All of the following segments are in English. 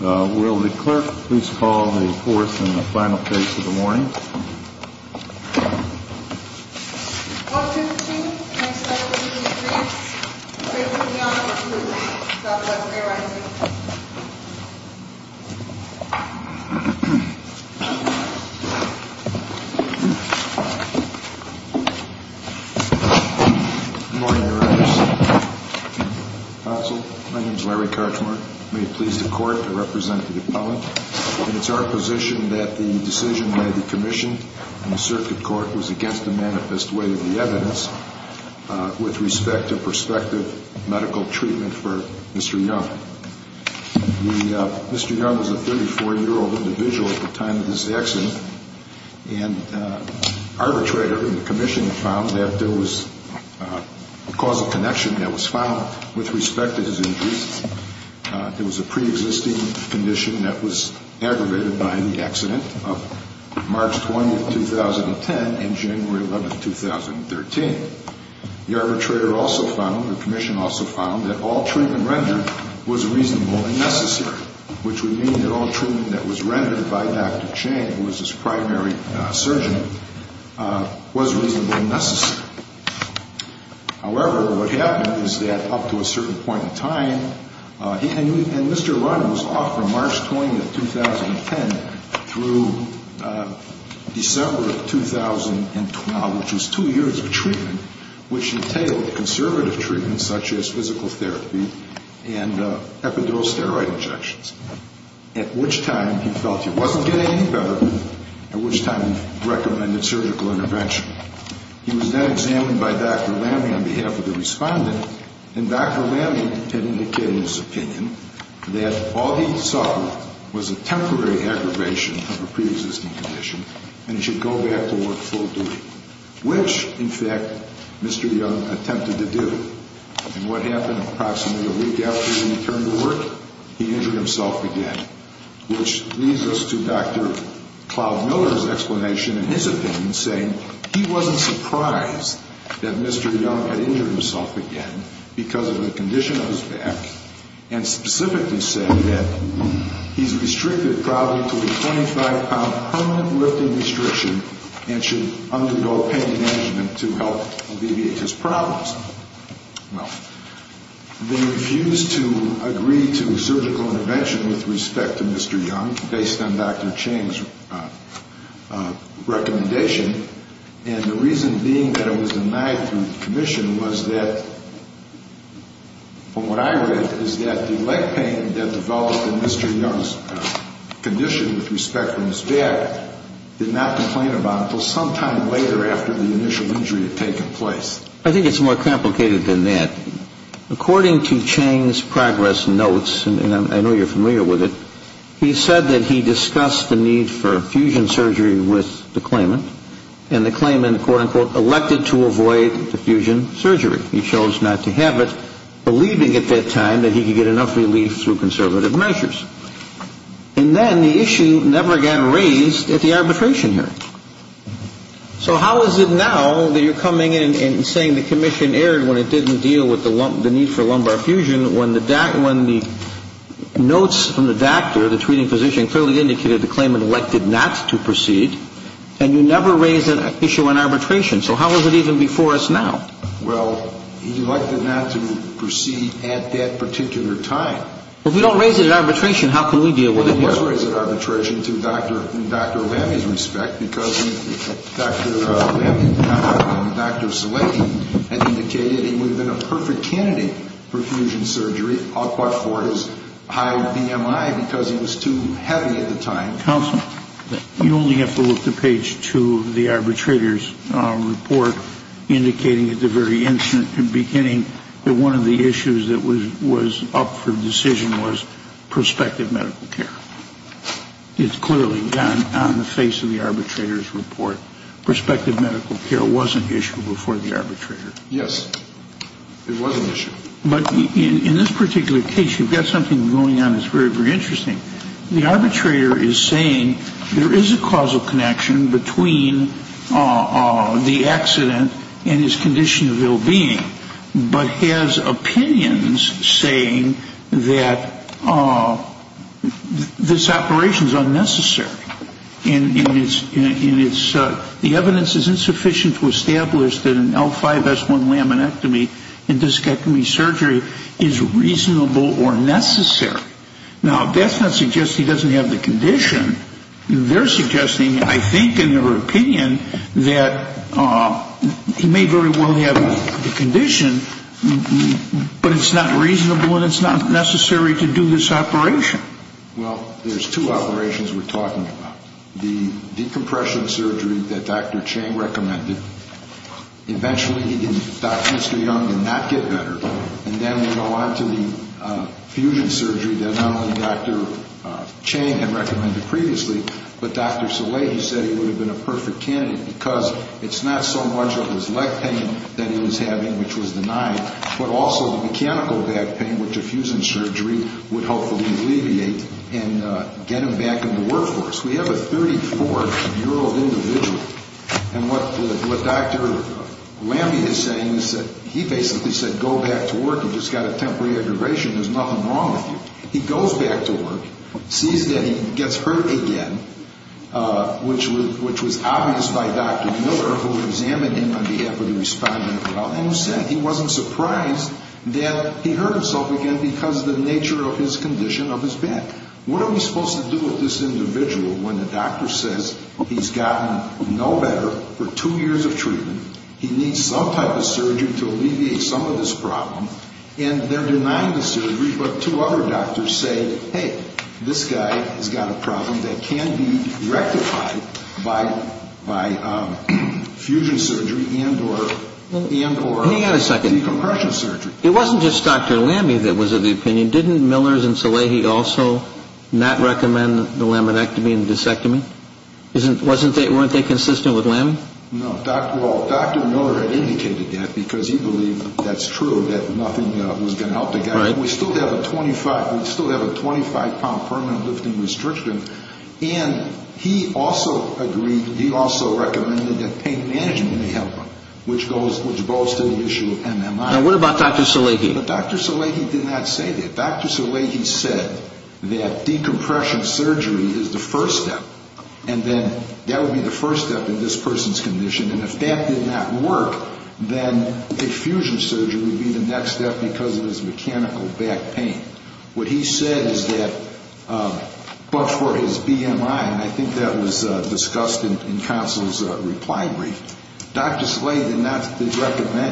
Will the clerk please call the fourth and the final case of the morning? 1-2-2. Next item will be the appraised. Please put me on the report. Good morning, directors, counsel. My name's Larry Karchmark. May it please the court, I represent the appellant. It's our position that the decision by the commission and the circuit court was against the manifest way of the evidence with respect to prospective medical treatment for Mr. Young. Mr. Young was a 34-year-old individual at the time of this accident. And arbitrator and the commission found that there was a causal connection that was found with respect to his injuries. There was a pre-existing condition that was aggravated by the accident of March 20th, 2010 and January 11th, 2013. The arbitrator also found, the commission also found, that all treatment rendered was reasonable and necessary, which would mean that all treatment that was rendered by Dr. Chang, who was his primary surgeon, was reasonable and necessary. However, what happened is that up to a certain point in time, and Mr. Young was off from March 20th, 2010 through December of 2012, which was two years of treatment, which entailed conservative treatments such as physical therapy and epidural steroid injections, at which time he felt he wasn't getting any better, at which time he recommended surgical intervention. He was then examined by Dr. Lamme on behalf of the respondent, and Dr. Lamme had indicated in his opinion that all he suffered was a temporary aggravation of a pre-existing condition and he should go back to work full duty, which, in fact, Mr. Young attempted to do. And what happened approximately a week after he returned to work? He injured himself again, which leads us to Dr. Cloud Miller's explanation in his opinion saying he wasn't surprised that Mr. Young had injured himself again because of the condition of his back, and specifically said that he's restricted probably to a 25-pound permanent lifting restriction and should undergo pain management to help alleviate his problems. Well, they refused to agree to surgical intervention with respect to Mr. Young based on Dr. Chang's recommendation, and the reason being that it was denied through the commission was that, from what I read, is that the leg pain that developed in Mr. Young's condition with respect to his back did not complain about it until sometime later after the initial injury had taken place. I think it's more complicated than that. According to Chang's progress notes, and I know you're familiar with it, he said that he discussed the need for fusion surgery with the claimant, and the claimant, quote-unquote, elected to avoid the fusion surgery. He chose not to have it, believing at that time that he could get enough relief through conservative measures. And then the issue never again raised at the arbitration hearing. So how is it now that you're coming in and saying the commission erred when it didn't deal with the need for lumbar fusion when the notes from the doctor, the treating physician, clearly indicated the claimant elected not to proceed, and you never raised an issue on arbitration? So how is it even before us now? Well, he elected not to proceed at that particular time. Well, if we don't raise it at arbitration, how can we deal with it here? Well, we must raise it at arbitration to Dr. Lammy's respect because Dr. Lammy and Dr. Zellady had indicated he would have been a perfect candidate for fusion surgery but for his high BMI because he was too heavy at the time. Counsel, you only have to look to page 2 of the arbitrator's report, indicating at the very instant beginning that one of the issues that was up for decision was prospective medical care. It's clearly done on the face of the arbitrator's report. Prospective medical care was an issue before the arbitrator. Yes, it was an issue. But in this particular case, you've got something going on that's very, very interesting. The arbitrator is saying there is a causal connection between the accident and his condition of ill-being but has opinions saying that this operation is unnecessary and the evidence is insufficient to establish that an L5-S1 laminectomy and discectomy surgery is reasonable or necessary. Now, that's not suggesting he doesn't have the condition. They're suggesting, I think, in their opinion, that he may very well have the condition, but it's not reasonable and it's not necessary to do this operation. Well, there's two operations we're talking about. The decompression surgery that Dr. Chang recommended, eventually he thought Mr. Young did not get better, and then we go on to the fusion surgery that not only Dr. Chang had recommended previously, but Dr. Soleil, he said he would have been a perfect candidate because it's not so much of his leg pain that he was having, which was denied, but also the mechanical back pain, which a fusion surgery would hopefully alleviate and get him back in the workforce. We have a 34-year-old individual. And what Dr. Lamby is saying is that he basically said, go back to work, you've just got a temporary aggravation, there's nothing wrong with you. He goes back to work, sees that he gets hurt again, which was obvious by Dr. Miller, who examined him on behalf of the respondent, and who said he wasn't surprised that he hurt himself again because of the nature of his condition of his back. What are we supposed to do with this individual when the doctor says he's gotten no better for two years of treatment, he needs some type of surgery to alleviate some of this problem, and they're denying the surgery, but two other doctors say, hey, this guy has got a problem that can be rectified by fusion surgery and or decompression surgery. It wasn't just Dr. Lamby that was of the opinion. Didn't Millers and Salehi also not recommend the laminectomy and the disectomy? Weren't they consistent with Lamby? No. Well, Dr. Miller had indicated that because he believed that's true, that nothing was going to help the guy. We still have a 25-pound permanent lifting restriction, and he also agreed, he also recommended that pain management help him, which goes to the issue of MMI. Now, what about Dr. Salehi? Dr. Salehi did not say that. Dr. Salehi said that decompression surgery is the first step, and then that would be the first step in this person's condition, and if that did not work, then fusion surgery would be the next step because of his mechanical back pain. What he said is that before his BMI, and I think that was discussed in counsel's reply brief, Dr. Salehi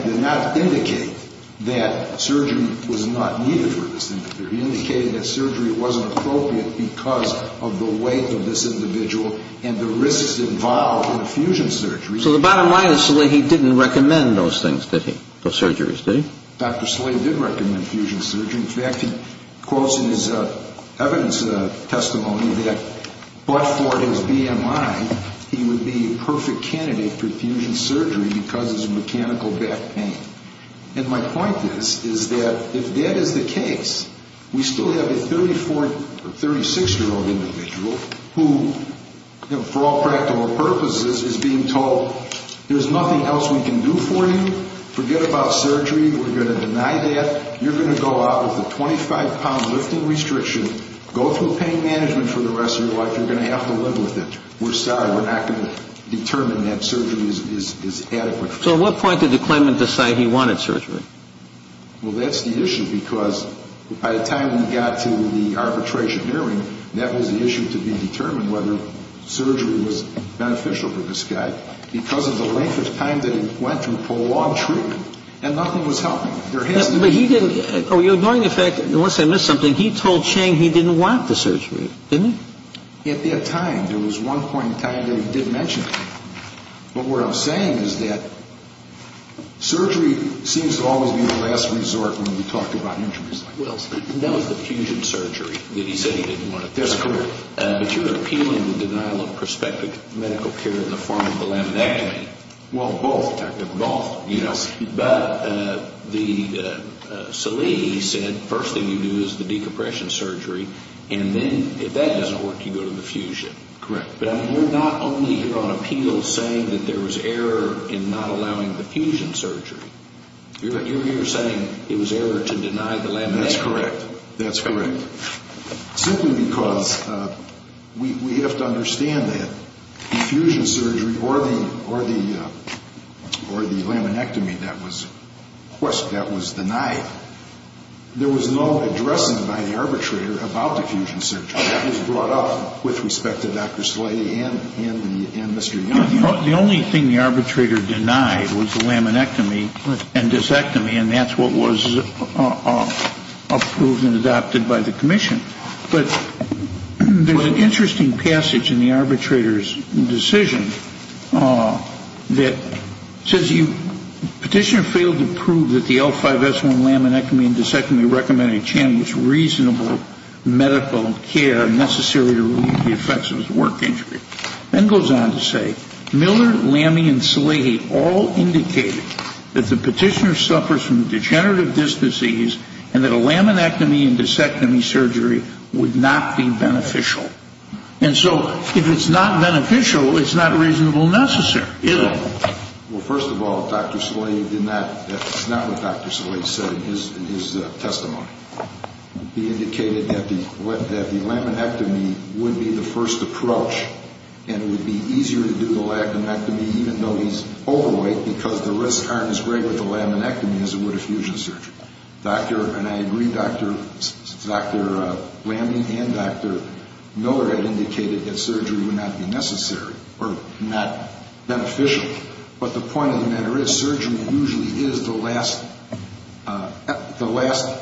did not indicate that surgery was not needed for this individual. He indicated that surgery wasn't appropriate because of the weight of this individual and the risks involved in fusion surgery. So the bottom line is Salehi didn't recommend those things, did he, those surgeries, did he? Dr. Salehi did recommend fusion surgery. In fact, he quotes in his evidence testimony that, but for his BMI, he would be a perfect candidate for fusion surgery because of his mechanical back pain. And my point is, is that if that is the case, we still have a 36-year-old individual who, for all practical purposes, is being told there's nothing else we can do for you, forget about surgery, we're going to deny that, you're going to go out with a 25-pound lifting restriction, go through pain management for the rest of your life, you're going to have to live with it, we're sorry, we're not going to determine that surgery is adequate for you. So at what point did the claimant decide he wanted surgery? Well, that's the issue because by the time we got to the arbitration hearing, that was the issue to be determined, whether surgery was beneficial for this guy, because of the length of time that he went through prolonged treatment, and nothing was helping. But he didn't, oh, you're ignoring the fact, unless I missed something, he told Chang he didn't want the surgery, didn't he? At that time, there was one point in time that he did mention it. But what I'm saying is that surgery seems to always be the last resort when we talk about injuries like that. Well, that was the fusion surgery that he said he didn't want to do. That's correct. But you're appealing the denial of prospective medical care in the form of the laminectomy. Well, both. But Salih said first thing you do is the decompression surgery, and then if that doesn't work, you go to the fusion. Correct. But you're not only here on appeal saying that there was error in not allowing the fusion surgery. You're here saying it was error to deny the laminectomy. That's correct. Simply because we have to understand that the fusion surgery or the laminectomy that was denied, there was no addressing by the arbitrator about the fusion surgery. That was brought up with respect to Dr. Salih and Mr. Young. The only thing the arbitrator denied was the laminectomy and disectomy, and that's what was approved and adopted by the commission. But there's an interesting passage in the arbitrator's decision that says, Petitioner failed to prove that the L5S1 laminectomy and disectomy recommended reasonable medical care necessary to relieve the effects of his work injury. Then it goes on to say, Miller, Lamey, and Salih all indicated that the petitioner suffers from degenerative disc disease and that a laminectomy and disectomy surgery would not be beneficial. And so if it's not beneficial, it's not reasonable necessary either. Well, first of all, Dr. Salih did not, that's not what Dr. Salih said in his testimony. He indicated that the laminectomy would be the first approach and it would be easier to do the laminectomy even though he's overweight because the risks aren't as great with the laminectomy as it would a fusion surgery. And I agree, Dr. Lamey and Dr. Miller had indicated that surgery would not be necessary or not beneficial, but the point of the matter is surgery usually is the last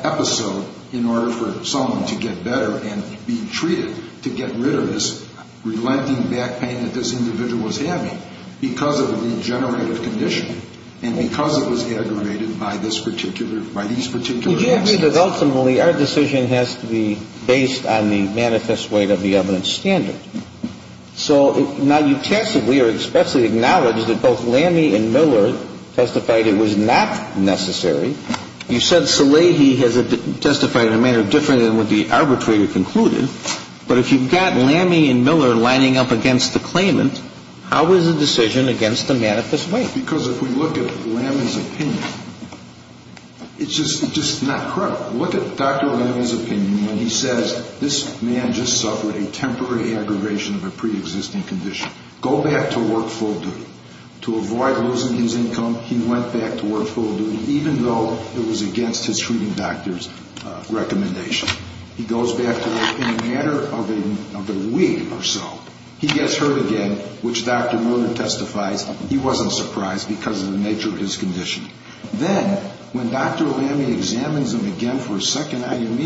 episode in order for someone to get better and be treated to get rid of this relenting back pain that this individual was having because of a degenerative condition and because it was aggravated by these particular accidents. Would you agree that ultimately our decision has to be based on the manifest weight of the evidence standard? So now you testably or expressly acknowledge that both Lamey and Miller testified it was not necessary. You said Salih has testified in a manner different than what the arbitrator concluded, but if you've got Lamey and Miller lining up against the claimant, how is the decision against the manifest weight? Because if we look at Lamey's opinion, it's just not correct. Look at Dr. Lamey's opinion when he says this man just suffered a temporary aggravation of a preexisting condition. Go back to work full duty. To avoid losing his income, he went back to work full duty, even though it was against his treating doctor's recommendation. He goes back to work. In a matter of a week or so, he gets hurt again, which Dr. Miller testifies he wasn't surprised because of the nature of his condition. Then when Dr. Lamey examines him again for a second IME,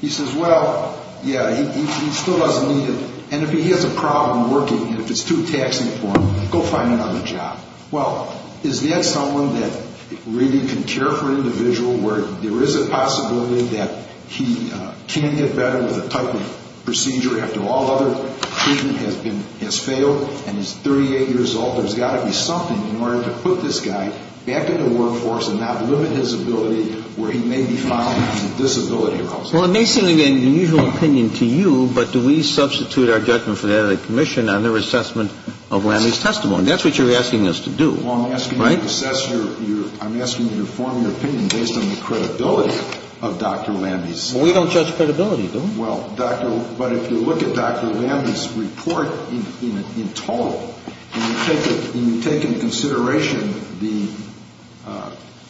he says, well, yeah, he still doesn't need it, and if he has a problem working, if it's too taxing for him, go find another job. Well, is that someone that really can care for an individual where there is a possibility that he can get better with a type of procedure after all other treatment has failed and he's 38 years old? There's got to be something in order to put this guy back in the workforce and not limit his ability where he may be found with a disability or else. Well, it may seem like an unusual opinion to you, but do we substitute our judgment for that of the commission on their assessment of Lamey's testimony? That's what you're asking us to do, right? Well, I'm asking you to assess your – I'm asking you to form your opinion based on the credibility of Dr. Lamey's. Well, we don't judge credibility, do we? Well, Dr. – but if you look at Dr. Lamey's report in total, and you take into consideration the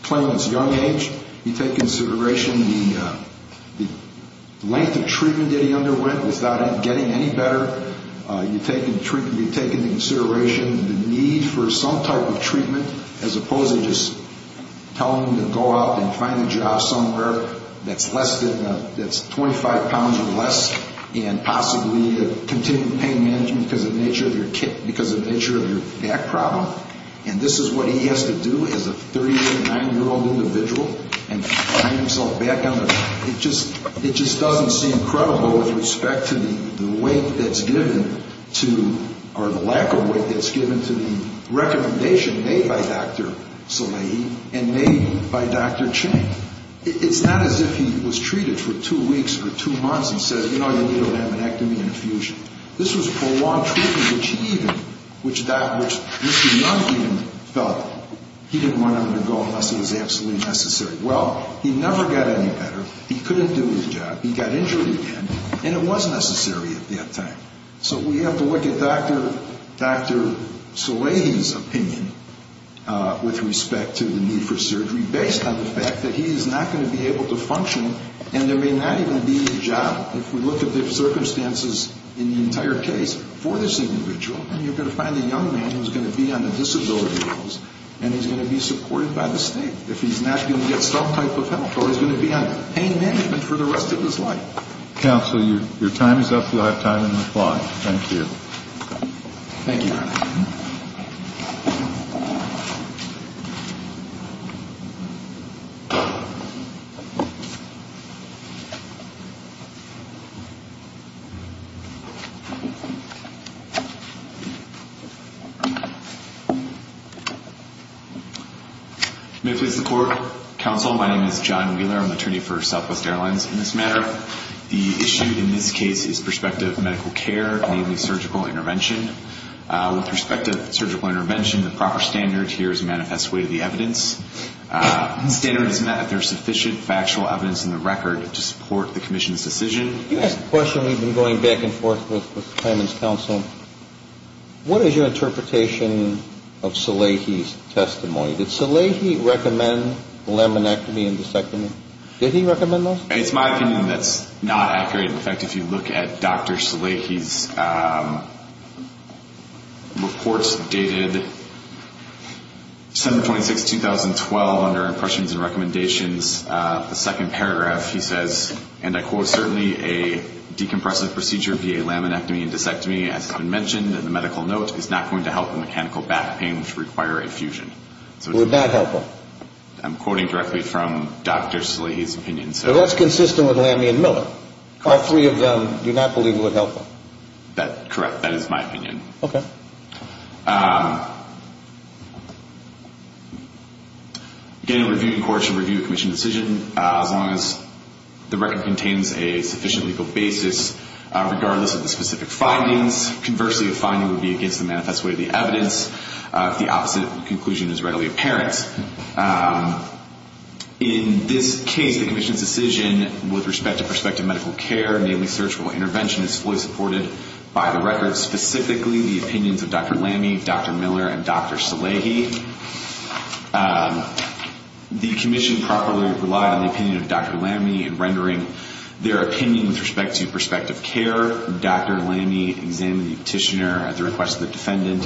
claimant's young age, you take into consideration the length of treatment that he underwent without him getting any better, you take into consideration the need for some type of treatment as opposed to just telling him to go out and find a job somewhere that's less than – that's 25 pounds or less and possibly continue the pain management because of the nature of your back problem. And this is what he has to do as a 39-year-old individual and find himself back on the – it just doesn't seem credible with respect to the weight that's given to – by Dr. Salehi and made by Dr. Chang. It's not as if he was treated for two weeks or two months and says, you know, you need a laminectomy and infusion. This was prolonged treatment, which he even – which Dr. – which Mr. Young even felt he didn't want him to go unless it was absolutely necessary. Well, he never got any better. He couldn't do his job. He got injured again, and it was necessary at that time. So we have to look at Dr. – Dr. Salehi's opinion with respect to the need for surgery based on the fact that he is not going to be able to function and there may not even be a job. If we look at the circumstances in the entire case for this individual, then you're going to find a young man who's going to be on the disability rolls, and he's going to be supported by the state if he's not going to get some type of help or he's going to be on pain management for the rest of his life. Counsel, your time is up. You'll have time in the clock. Thank you. Thank you. May it please the Court. Counsel, my name is John Wheeler. I'm attorney for Southwest Airlines. In this matter, the issue in this case is prospective medical care, namely surgical intervention. With respect to surgical intervention, the proper standard here is a manifest way to the evidence. The standard is that there's sufficient factual evidence in the record to support the commission's decision. You asked a question. We've been going back and forth with the claimants' counsel. What is your interpretation of Salehi's testimony? Did Salehi recommend laminectomy and discectomy? Did he recommend those? It's my opinion that's not accurate. In fact, if you look at Dr. Salehi's reports dated December 26, 2012, under Impressions and Recommendations, the second paragraph he says, and I quote, certainly a decompressive procedure via laminectomy and discectomy, as has been mentioned in the medical note, is not going to help the mechanical back pain which would require a fusion. Would not help him. I'm quoting directly from Dr. Salehi's opinion. Well, that's consistent with laminectomy and discectomy. All three of them do not believe it would help him. That's correct. That is my opinion. Okay. Again, a reviewed court should review a commission's decision as long as the record contains a sufficient legal basis, regardless of the specific findings. Conversely, a finding would be against the manifest way of the evidence if the opposite conclusion is readily apparent. In this case, the commission's decision with respect to prospective medical care, namely surgical intervention, is fully supported by the record, specifically the opinions of Dr. Lamey, Dr. Miller, and Dr. Salehi. The commission properly relied on the opinion of Dr. Lamey in rendering their opinion with respect to prospective care. Dr. Lamey examined the petitioner at the request of the defendant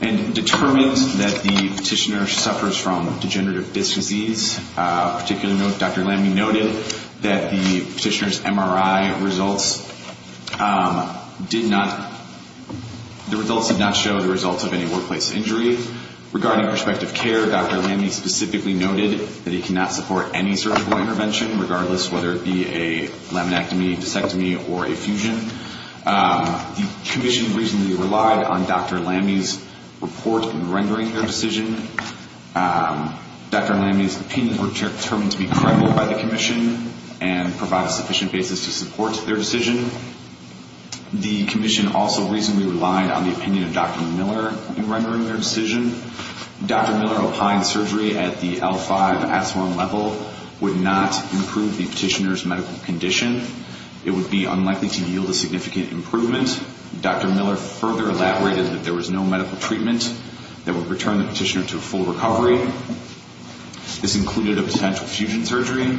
and determined that the petitioner suffers from degenerative disc disease. Dr. Lamey noted that the petitioner's MRI results did not show the results of any workplace injury. Regarding prospective care, Dr. Lamey specifically noted that he cannot support any surgical intervention, regardless whether it be a laminectomy, discectomy, or a fusion. The commission reasonably relied on Dr. Lamey's report in rendering their decision. Dr. Lamey's opinions were determined to be credible by the commission and provide a sufficient basis to support their decision. The commission also reasonably relied on the opinion of Dr. Miller in rendering their decision. Dr. Miller opined surgery at the L5 S1 level would not improve the petitioner's medical condition. It would be unlikely to yield a significant improvement. Dr. Miller further elaborated that there was no medical treatment that would return the petitioner to a full recovery. This included a potential fusion surgery.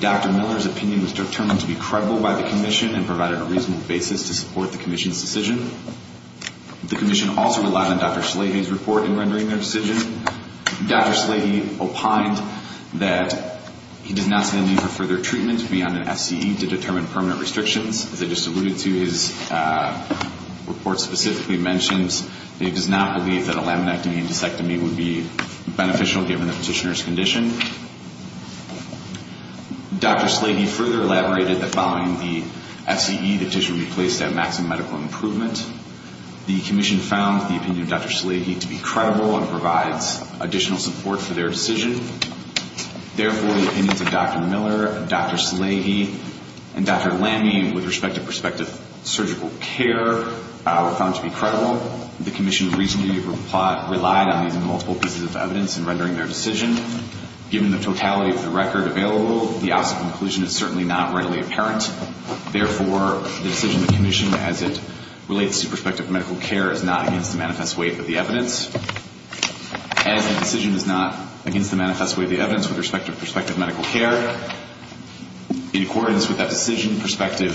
Dr. Miller's opinion was determined to be credible by the commission and provided a reasonable basis to support the commission's decision. The commission also relied on Dr. Salehi's report in rendering their decision. Dr. Salehi opined that he does not see a need for further treatment beyond an FCE to determine permanent restrictions. As I just alluded to, his report specifically mentions that he does not believe that a laminectomy and discectomy would be beneficial given the petitioner's condition. Dr. Salehi further elaborated that following the FCE, the petition would be placed at maximum medical improvement. The commission found the opinion of Dr. Salehi to be credible and provides additional support for their decision. Therefore, the opinions of Dr. Miller, Dr. Salehi, and Dr. Lamine with respect to prospective surgical care were found to be credible. The commission reasonably relied on these multiple pieces of evidence in rendering their decision. Given the totality of the record available, the opposite conclusion is certainly not readily apparent. Therefore, the decision of the commission as it relates to prospective medical care is not against the manifest weight of the evidence. As the decision is not against the manifest weight of the evidence with respect to prospective medical care, in accordance with that decision, prospective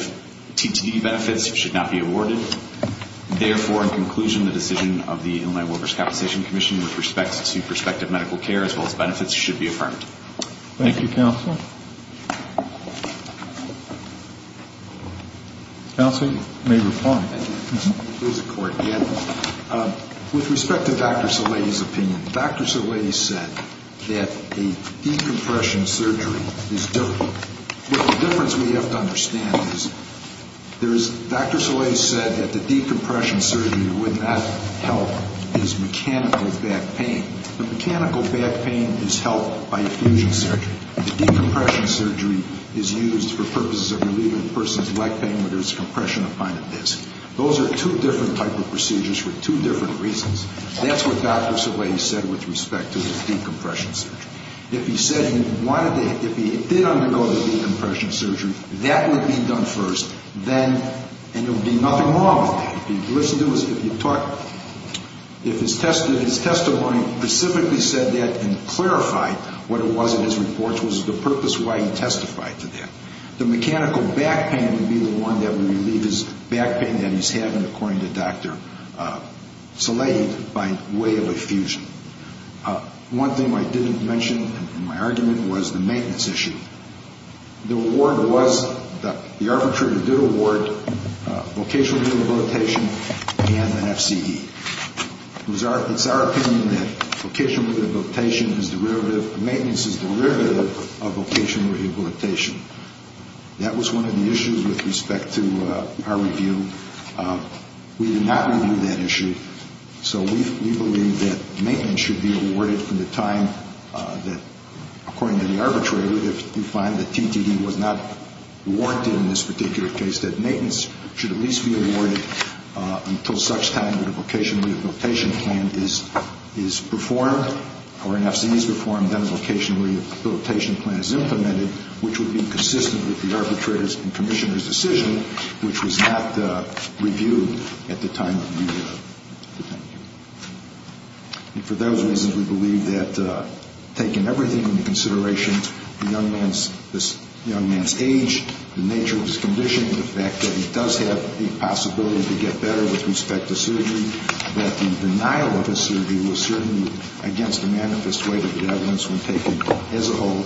TTD benefits should not be awarded. Therefore, in conclusion, the decision of the Illinois Workers' Compensation Commission with respect to prospective medical care as well as benefits should be affirmed. Thank you, counsel. Counsel may reply. With respect to Dr. Salehi's opinion, Dr. Salehi said that a decompression surgery is difficult. The difference we have to understand is Dr. Salehi said that the decompression surgery would not help his mechanical back pain. The mechanical back pain is helped by effusion surgery. The decompression surgery is used for purposes of relieving a person's leg pain where there's compression of myotis. Those are two different type of procedures for two different reasons. That's what Dr. Salehi said with respect to the decompression surgery. If he said he wanted to – if he did undergo the decompression surgery, that would be done first. Then – and there would be nothing wrong with that. If his testimony specifically said that and clarified what it was in his report, which was the purpose why he testified to that, the mechanical back pain would be the one that would relieve his back pain that he's having, according to Dr. Salehi, by way of effusion. One thing I didn't mention in my argument was the maintenance issue. The award was – the arbitrator did award vocational rehabilitation and an FCE. It's our opinion that vocational rehabilitation is derivative – maintenance is derivative of vocational rehabilitation. That was one of the issues with respect to our review. We did not review that issue. So we believe that maintenance should be awarded from the time that, according to the arbitrator, if you find that TTD was not warranted in this particular case, that maintenance should at least be awarded until such time that a vocational rehabilitation plan is performed or an FCE is performed, then a vocational rehabilitation plan is implemented, which would be consistent with the arbitrator's and commissioner's decision, which was not reviewed at the time of review. And for those reasons, we believe that taking everything into consideration, the young man's age, the nature of his condition, the fact that he does have the possibility to get better with respect to surgery, that the denial of his surgery was certainly against the manifest way that the evidence was taken as a whole,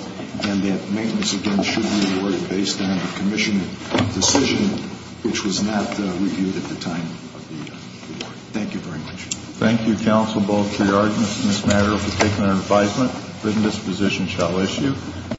and that maintenance, again, should be awarded based on the commissioner's decision, which was not reviewed at the time of the report. Thank you very much. Thank you, counsel, both for your arguments in this matter and for taking our advisement. The witness position shall issue.